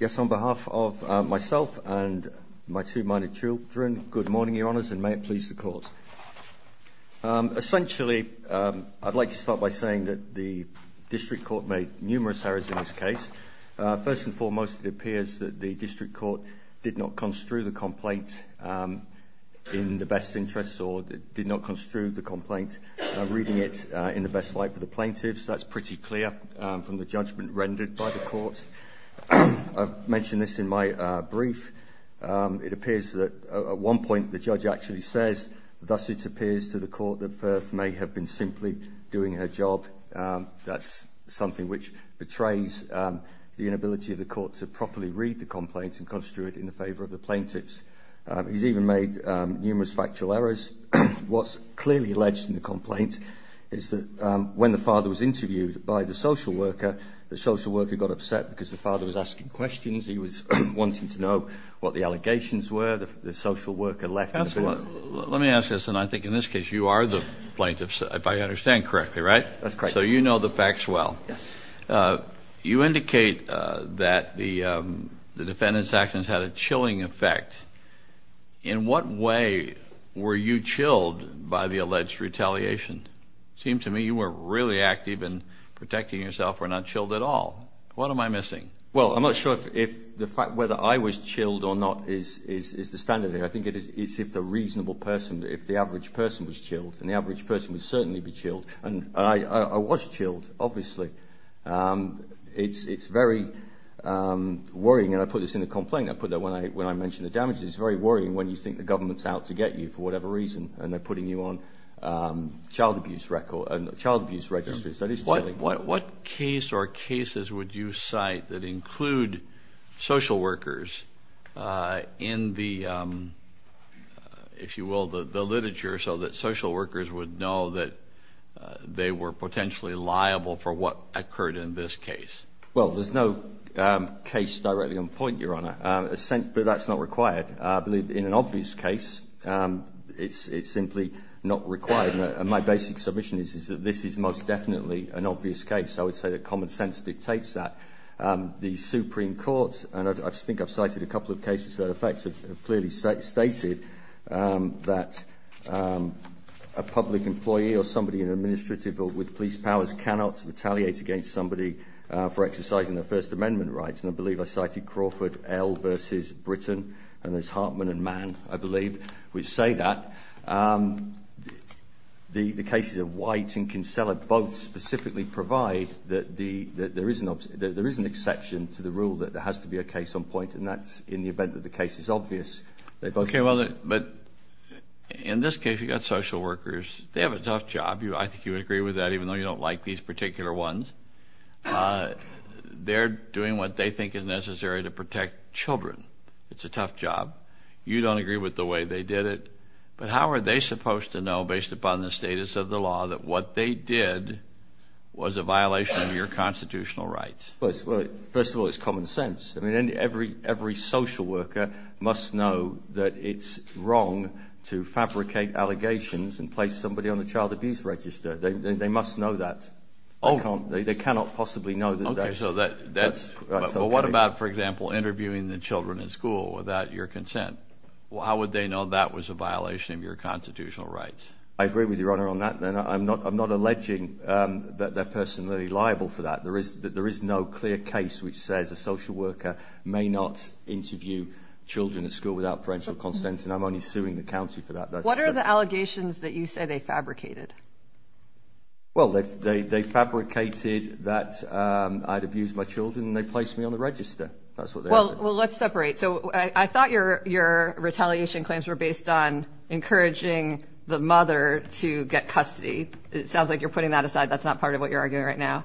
Yes on behalf of myself and my two minor children good morning Your Honours and may it please the court. Essentially I'd like to start by saying that the District Court made numerous errors in this case. First and foremost it appears that the District Court did not construe the complaint in the best interests or did not construe the complaint reading it in the best light for the plaintiffs that's pretty clear from the judgment rendered by the court. I've mentioned this in my brief it appears that at one point the judge actually says thus it appears to the court that Firth may have been simply doing her job that's something which betrays the inability of the court to properly read the complaints and construe it in the favor of the plaintiffs. He's even made numerous factual errors. What's clearly alleged in the complaint is that when the father was interviewed by the social worker the social worker got upset because the father was asking questions he was wanting to know what the allegations were the social worker left. Let me ask this and I think in this case you are the plaintiffs if I understand correctly right? That's correct. So you know the facts well. Yes. You indicate that the defendant's actions had a chilling effect. In what way were you chilled by the alleged retaliation? Seemed to me you were really active in protecting yourself or not chilled at all. What am I missing? Well I'm not sure if the fact whether I was chilled or not is the standard. I think it is if the reasonable person if the average person was chilled and the average person would certainly be chilled and I was chilled obviously. It's very worrying and I put this in the complaint I put that when I when I mentioned the damages very worrying when you think the government's out to get you for whatever reason and they're child abuse record and the child abuse registries. What case or cases would you cite that include social workers in the if you will the the literature so that social workers would know that they were potentially liable for what occurred in this case? Well there's no case directly on point your honor but that's not required. I believe in an obvious case it's simply not required and my basic submission is is that this is most definitely an obvious case. I would say that common sense dictates that. The Supreme Court and I think I've cited a couple of cases that affected clearly stated that a public employee or somebody in administrative or with police powers cannot retaliate against somebody for exercising their First Amendment rights and I believe I cited Crawford L versus Britain and there's Hartman and Mann I believe which say that the the cases of White and Kinsella both specifically provide that there is an exception to the rule that there has to be a case on point and that's in the event that the case is obvious. Okay well but in this case you got social workers they have a tough job you I think you would agree with that even though you don't like these particular ones. They're doing what they think is necessary to protect children. It's a tough job. You don't agree with the way they did it but how are they supposed to know based upon the status of the law that what they did was a violation of your constitutional rights? Well first of all it's common sense. I mean every every social worker must know that it's wrong to fabricate allegations and place somebody on the child abuse register. They must know that. They cannot possibly know that. So that that's so what about for example interviewing the children in consent. Well how would they know that was a violation of your constitutional rights? I agree with your honor on that. I'm not I'm not alleging that they're personally liable for that. There is that there is no clear case which says a social worker may not interview children at school without parental consent and I'm only suing the county for that. What are the allegations that you say they fabricated? Well they fabricated that I'd abused my children and they placed me on the register. Well well let's separate. So I thought your your retaliation claims were based on encouraging the mother to get custody. It sounds like you're putting that aside. That's not part of what you're arguing right now.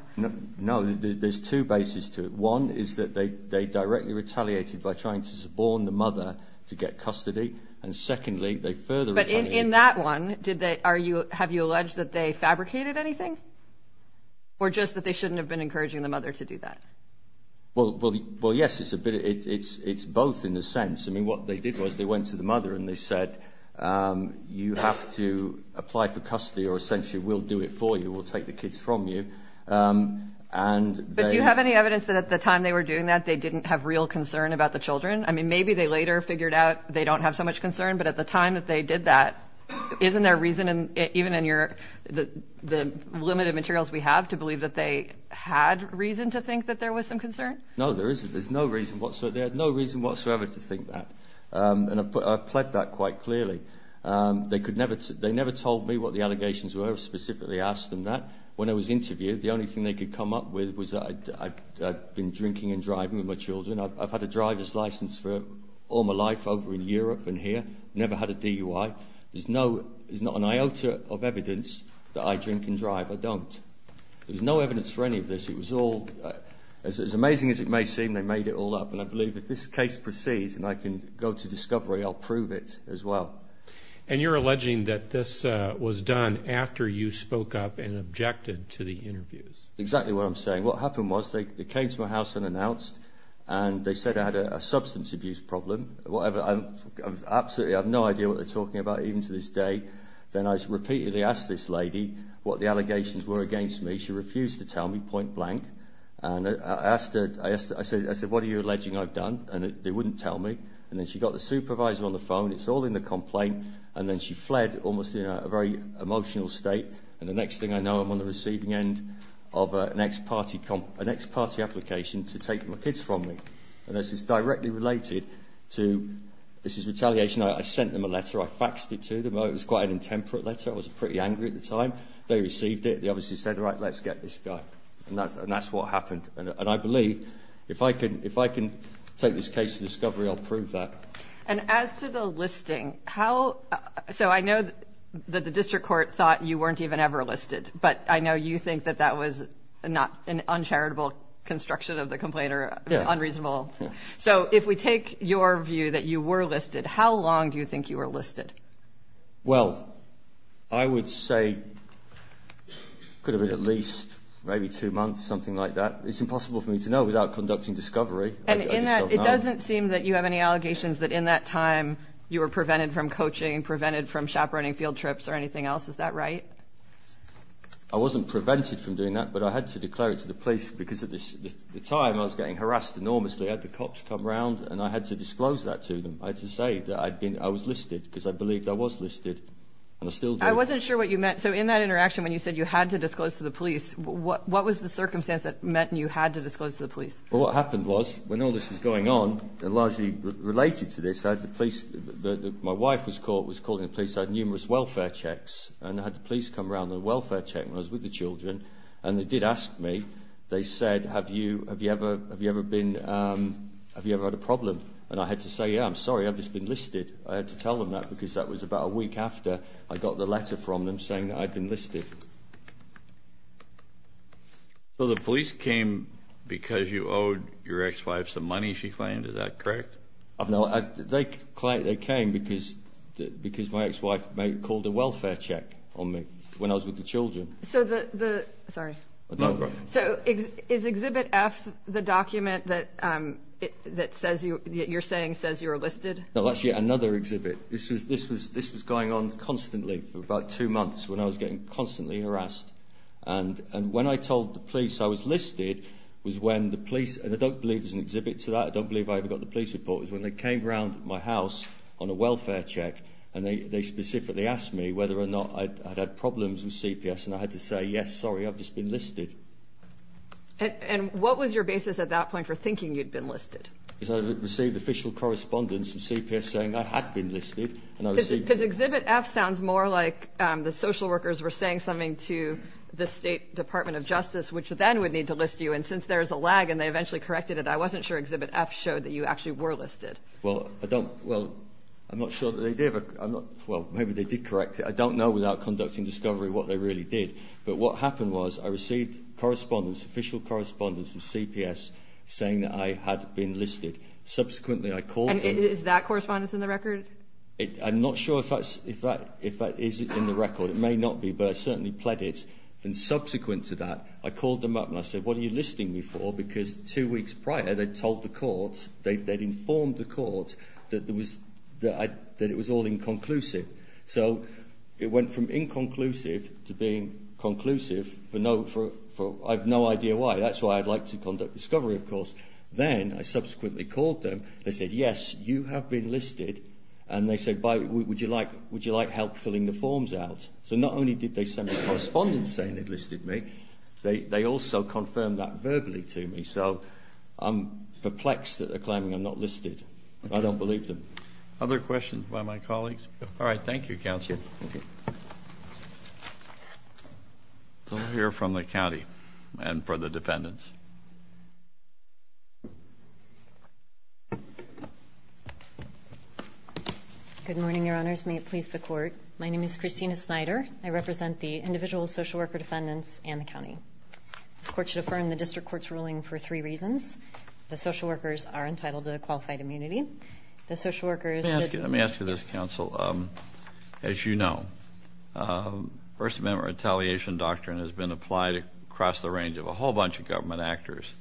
No there's two bases to it. One is that they they directly retaliated by trying to suborn the mother to get custody and secondly they further. But in that one did they are you have you alleged that they fabricated anything or just that they shouldn't have been encouraging the mother to do that? Well well yes it's a bit it's it's both in the sense I mean what they did was they went to the mother and they said you have to apply for custody or essentially we'll do it for you we'll take the kids from you. But do you have any evidence that at the time they were doing that they didn't have real concern about the children? I mean maybe they later figured out they don't have so much concern but at the time that they did that isn't there reason and even in your the the limited materials we have to believe that they had reason to think that there was some concern? No there isn't there's no reason whatsoever they had no reason whatsoever to think that and I've pled that quite clearly. They could never they never told me what the allegations were specifically asked them that. When I was interviewed the only thing they could come up with was I'd been drinking and driving with my children. I've had a driver's license for all my life over in Europe and here never had a DUI. There's no there's not an iota of evidence that I drink and drive I don't. There's no evidence for any of this it was all as amazing as it may seem they made it all up and I believe if this case proceeds and I can go to discovery I'll prove it as well. And you're alleging that this was done after you spoke up and objected to the interviews? Exactly what I'm saying what happened was they came to my house and announced and they said I had a substance abuse problem whatever I'm absolutely I've no idea what they're lady what the allegations were against me she refused to tell me point-blank and I asked her I said I said what are you alleging I've done and it they wouldn't tell me and then she got the supervisor on the phone it's all in the complaint and then she fled almost in a very emotional state and the next thing I know I'm on the receiving end of an ex-party an ex-party application to take my kids from me and this is directly related to this is retaliation I sent them a letter I faxed it to them oh it was quite an intemperate letter I was pretty angry at the time they received it they obviously said all right let's get this guy and that's and that's what happened and I believe if I could if I can take this case to discovery I'll prove that and as to the listing how so I know that the district court thought you weren't even ever listed but I know you think that that was not an uncharitable construction of the complainer unreasonable so if we take your view that you were listed how long do you think you were listed well I would say could have been at least maybe two months something like that it's impossible for me to know without conducting discovery and it doesn't seem that you have any allegations that in that time you were prevented from coaching prevented from chaperoning field trips or anything else is that right I wasn't prevented from doing that but I had to declare it to the police because of this the time I was getting harassed enormously at the cops come round and I had to disclose that to them I had to say that I'd been I was listed because I believed I was listed and I still do I wasn't sure what you meant so in that interaction when you said you had to disclose to the police what what was the circumstance that meant you had to disclose to the police well what happened was when all this was going on and largely related to this I had the police that my wife was caught was calling the police I had numerous welfare checks and I had the police come around the welfare check was with the children and they did ask me they said have you have you ever have you ever been have you ever had a problem and I had to say yeah I'm sorry I've just been listed I had to tell them that because that was about a week after I got the letter from them saying that I've been listed so the police came because you owed your ex-wife some money she claimed is that correct I've know I think quite they came because because my ex-wife may call the welfare check on me when I was with the children so the sorry so is exhibit F the document that that says you you're saying says you're listed no that's yet another exhibit this was this was this was going on constantly for about two months when I was getting constantly harassed and and when I told the police I was listed was when the police and I don't believe there's an exhibit to that I don't believe I ever got the police report is when they came around my house on a welfare check and they specifically asked me whether or not I had problems with CPS and I had to say yes sorry I've just been listed and what was your basis at that point for thinking you'd been listed because I received official correspondence from CPS saying I had been listed because exhibit F sounds more like the social workers were saying something to the State Department of Justice which then would need to list you and since there's a lag and they eventually corrected it I wasn't sure exhibit F showed that you actually were listed well I don't well I'm not sure well maybe they did correct it I don't know without conducting discovery what they really did but what happened was I received correspondence official correspondence with CPS saying that I had been listed subsequently I called is that correspondence in the record I'm not sure if that's if that if that is in the record it may not be but I certainly pledged it and subsequent to that I called them up and I said what are you listing me for because two weeks prior they told the courts they'd informed the courts that there was that I that it was all inconclusive so it went from inconclusive to being conclusive for no for I've no idea why that's why I'd like to conduct discovery of course then I subsequently called them they said yes you have been listed and they said by would you like would you like help filling the forms out so not only did they send a correspondent saying it listed me they also confirmed that perplexed that they're claiming I'm not listed I don't believe them other questions by my colleagues all right thank you council here from the county and for the defendants good morning your honors may it please the court my name is Christina Snyder I represent the individual social worker defendants and the county this court should affirm the district court's ruling for three reasons the social workers are entitled to qualified immunity the social workers let me ask you this counsel as you know first member retaliation doctrine has been applied across the range of a whole bunch of government actors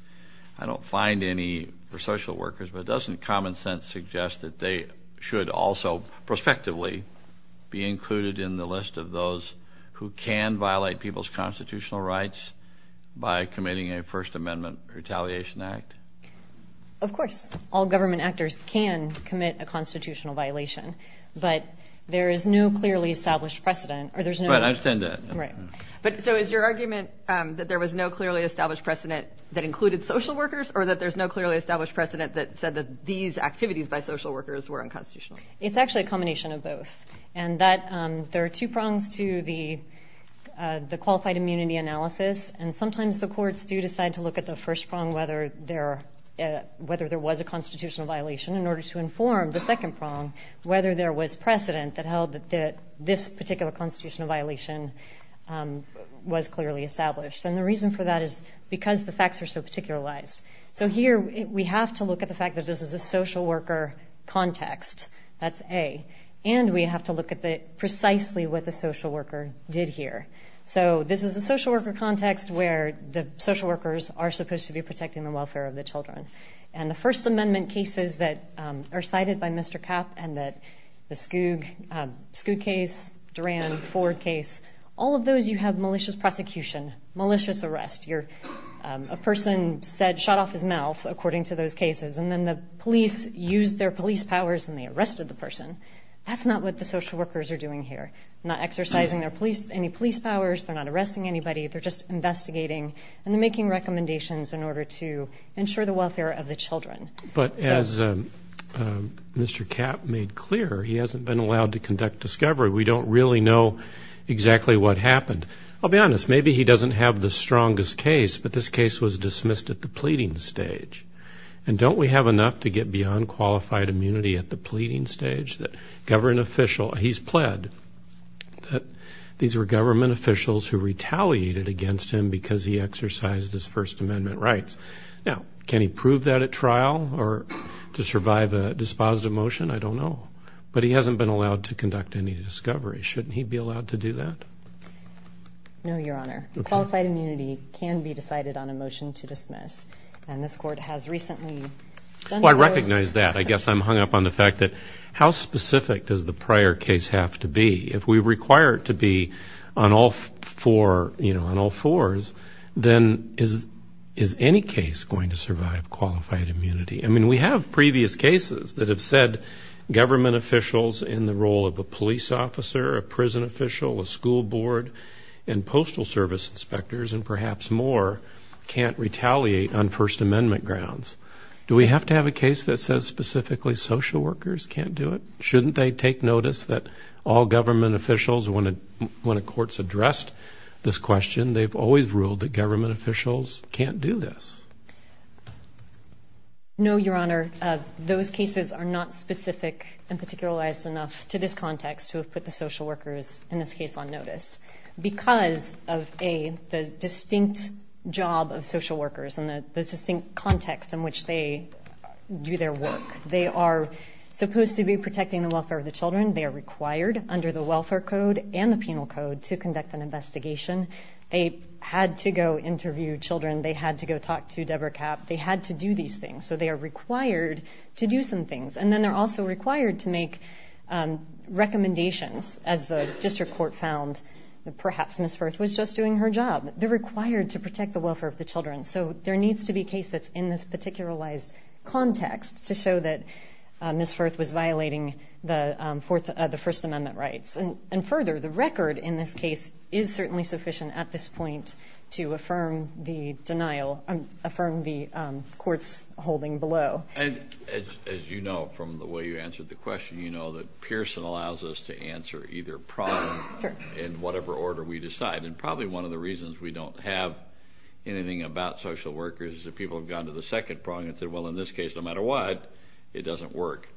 I don't find any for social workers but doesn't common-sense suggest that they should also prospectively be included in the list of those who can violate people's of course all government actors can commit a constitutional violation but there is no clearly established precedent or there's no right but so is your argument that there was no clearly established precedent that included social workers or that there's no clearly established precedent that said that these activities by social workers were unconstitutional it's actually a combination of both and that there are two prongs to the the qualified immunity analysis and sometimes the courts do decide to look at the first prong whether there whether there was a constitutional violation in order to inform the second prong whether there was precedent that held that this particular constitutional violation was clearly established and the reason for that is because the facts are so particular lies so here we have to look at the fact that this is a social worker context that's a and we have to look at precisely what the social worker did here so this is a social worker context where the social workers are supposed to be protecting the welfare of the children and the First Amendment cases that are cited by Mr. Kapp and that the skug skug case Duran Ford case all of those you have malicious prosecution malicious arrest you're a person said shot off his mouth according to those cases and then the police used their police powers and they arrested the person that's not what the social workers are doing here not exercising their police any police powers they're not arresting anybody they're just investigating and they're making recommendations in order to ensure the welfare of the children but as Mr. Kapp made clear he hasn't been allowed to conduct discovery we don't really know exactly what happened I'll be honest maybe he doesn't have the strongest case but this case was dismissed at the pleading stage and don't we have enough to get beyond qualified immunity at the pleading stage that government official he's pled that these were government officials who retaliated against him because he exercised his First Amendment rights now can he prove that at trial or to survive a dispositive motion I don't know but he hasn't been allowed to conduct any discovery shouldn't he be allowed to do that no your honor qualified immunity can be decided on a motion to dismiss and this court has recently I recognize that I guess I'm hung up on the fact that how specific does the prior case have to be if we require it to be on all four you know on all fours then is is any case going to survive qualified immunity I mean we have previous cases that have said government officials in the role of a police officer a prison official a school board and Postal Service inspectors and perhaps more can't retaliate on First Amendment grounds do we have to have a case that says specifically social workers can't do it shouldn't they take notice that all government officials wanted when the courts addressed this question they've always ruled the government officials can't do this no your honor of those cases are not specific and particularized enough to this context to put the social workers in this case on notice because of a distinct job of their work they are supposed to be protecting the welfare of the children they are required under the Welfare Code and the Penal Code to conduct an investigation they had to go interview children they had to go talk to Deborah Kapp they had to do these things so they are required to do some things and then they're also required to make recommendations as the district court found that perhaps Miss Firth was just doing her job they're required to protect the welfare of the children so there needs to be a case that's in this particularized context to show that Miss Firth was violating the Fourth of the First Amendment rights and further the record in this case is certainly sufficient at this point to affirm the denial and affirm the courts holding below and as you know from the way you answered the question you know that Pearson allows us to answer either problem in whatever order we decide and probably one of the reasons we don't have anything about social workers is people have gone to the second prong and said well in this case no matter what it doesn't work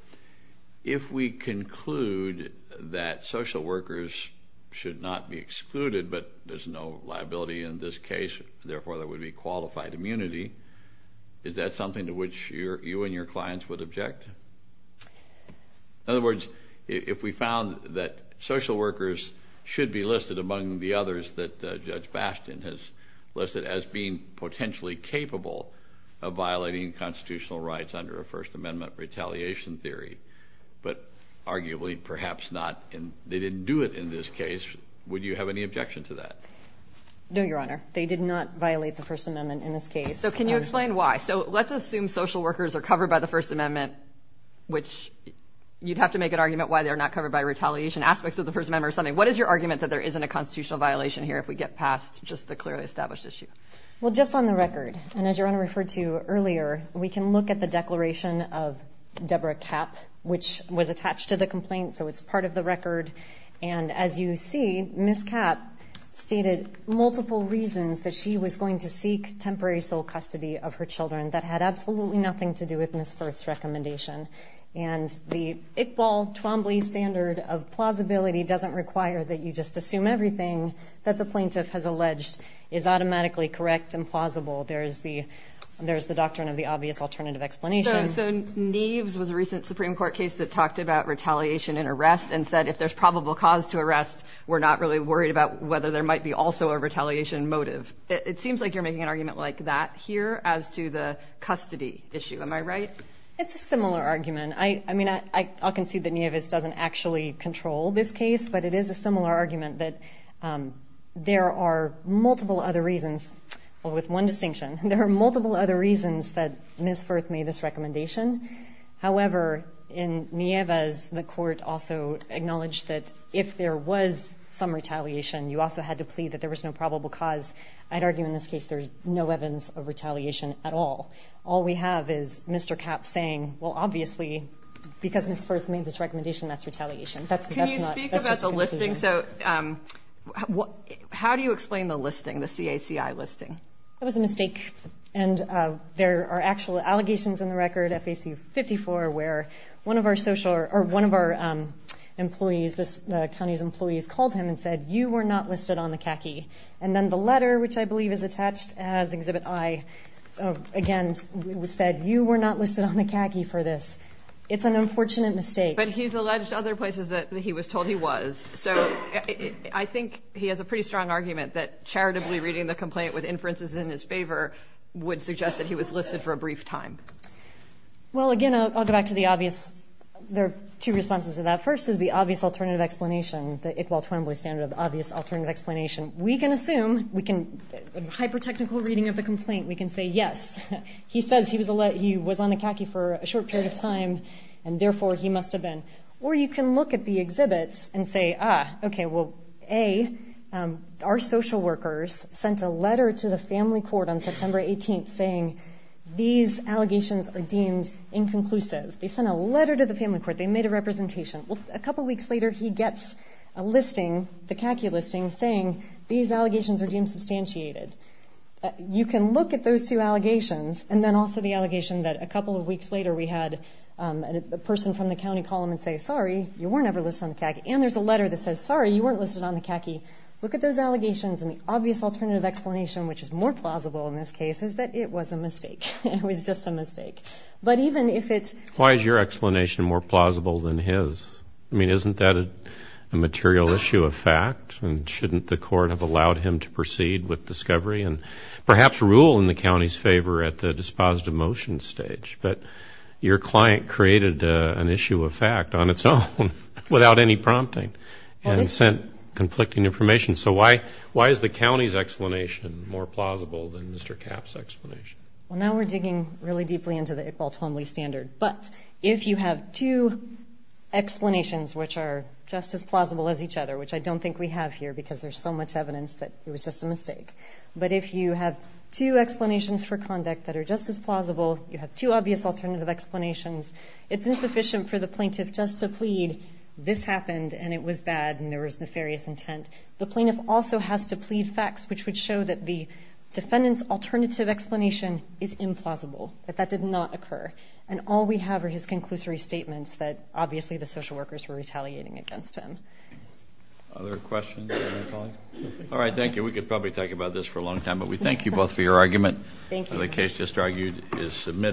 if we conclude that social workers should not be excluded but there's no liability in this case therefore there would be qualified immunity is that something to which you and your clients would object in other words if we found that social workers should be listed among the others that violating constitutional rights under a First Amendment retaliation theory but arguably perhaps not and they didn't do it in this case would you have any objection to that no your honor they did not violate the First Amendment in this case so can you explain why so let's assume social workers are covered by the First Amendment which you'd have to make an argument why they're not covered by retaliation aspects of the First Amendment or something what is your argument that there isn't a constitutional violation here if we get past just the clearly established issue well just on the record and as you're on referred to earlier we can look at the declaration of Deborah Kapp which was attached to the complaint so it's part of the record and as you see Miss Kapp stated multiple reasons that she was going to seek temporary sole custody of her children that had absolutely nothing to do with Miss first recommendation and the Iqbal Twombly standard of plausibility doesn't require that you just assume everything that the plaintiff has alleged is automatically correct and plausible there is the there's the doctrine of the obvious alternative explanation so Neves was a recent Supreme Court case that talked about retaliation and arrest and said if there's probable cause to arrest we're not really worried about whether there might be also a retaliation motive it seems like you're making an argument like that here as to the custody issue am I right it's a similar argument I I mean I can see that Nevis doesn't actually control this case but it is a similar argument that there are multiple other reasons with one distinction there are multiple other reasons that Miss Firth made this recommendation however in Nevis the court also acknowledged that if there was some retaliation you also had to plead that there was no probable cause I'd argue in this case there's no evidence of retaliation at all all we have is mr. Kapp saying well obviously because miss first made this recommendation that's retaliation that's a listing so what how do you explain the listing the CAC I listing it was a mistake and there are actual allegations in the record FAC 54 where one of our social or one of our employees this county's employees called him and said you were not listed on the khaki and then the letter which I believe is attached as exhibit I again was said you were not listed on the khaki for this it's an unfortunate mistake but he's alleged other places that he was told he was so I think he has a pretty strong argument that charitably reading the complaint with inferences in his favor would suggest that he was listed for a brief time well again I'll go back to the obvious there are two responses to that first is the obvious alternative explanation the Iqbal Twembley standard of obvious alternative explanation we can assume we can hyper technical reading of the complaint we can say yes he says he was a let he was on the khaki for a short period of time and therefore he must have been or you can look at the exhibits and say ah okay well a our social workers sent a letter to the family court on September 18th saying these allegations are deemed inconclusive they sent a letter to the family court they made a representation well a couple weeks later he gets a listing the khaki listing saying these allegations are deemed substantiated you can look at those two allegations and then also the allegation that a couple of weeks later we had a person from the county column and say sorry you were never listed on the khaki and there's a letter that says sorry you weren't listed on the khaki look at those allegations and the obvious alternative explanation which is more plausible in this case is that it was a mistake it was just a mistake but even if it's why is your explanation more plausible than his I mean isn't that a material issue of fact and shouldn't the court have allowed him to proceed with discovery and perhaps rule in the county's favor at the dispositive motion stage but your client created an issue of fact on its own without any prompting and sent conflicting information so why why is the county's explanation more plausible than mr. caps explanation well now we're digging really deeply into the Iqbal Twombly standard but if you have two explanations which are just as plausible as each other which I don't think we have here because there's so much evidence that it was just a mistake but if you have two explanations for conduct that are just as plausible you have two obvious alternative explanations it's insufficient for the plaintiff just to plead this happened and it was bad and there was nefarious intent the plaintiff also has to plead facts which would show that the defendant's alternative explanation is implausible that that did not occur and all we have are his conclusory statements that obviously the social workers were retaliating against him other questions all right thank you we could probably talk about this for a long time but we thank you both for your argument thank you the case just argued is submitted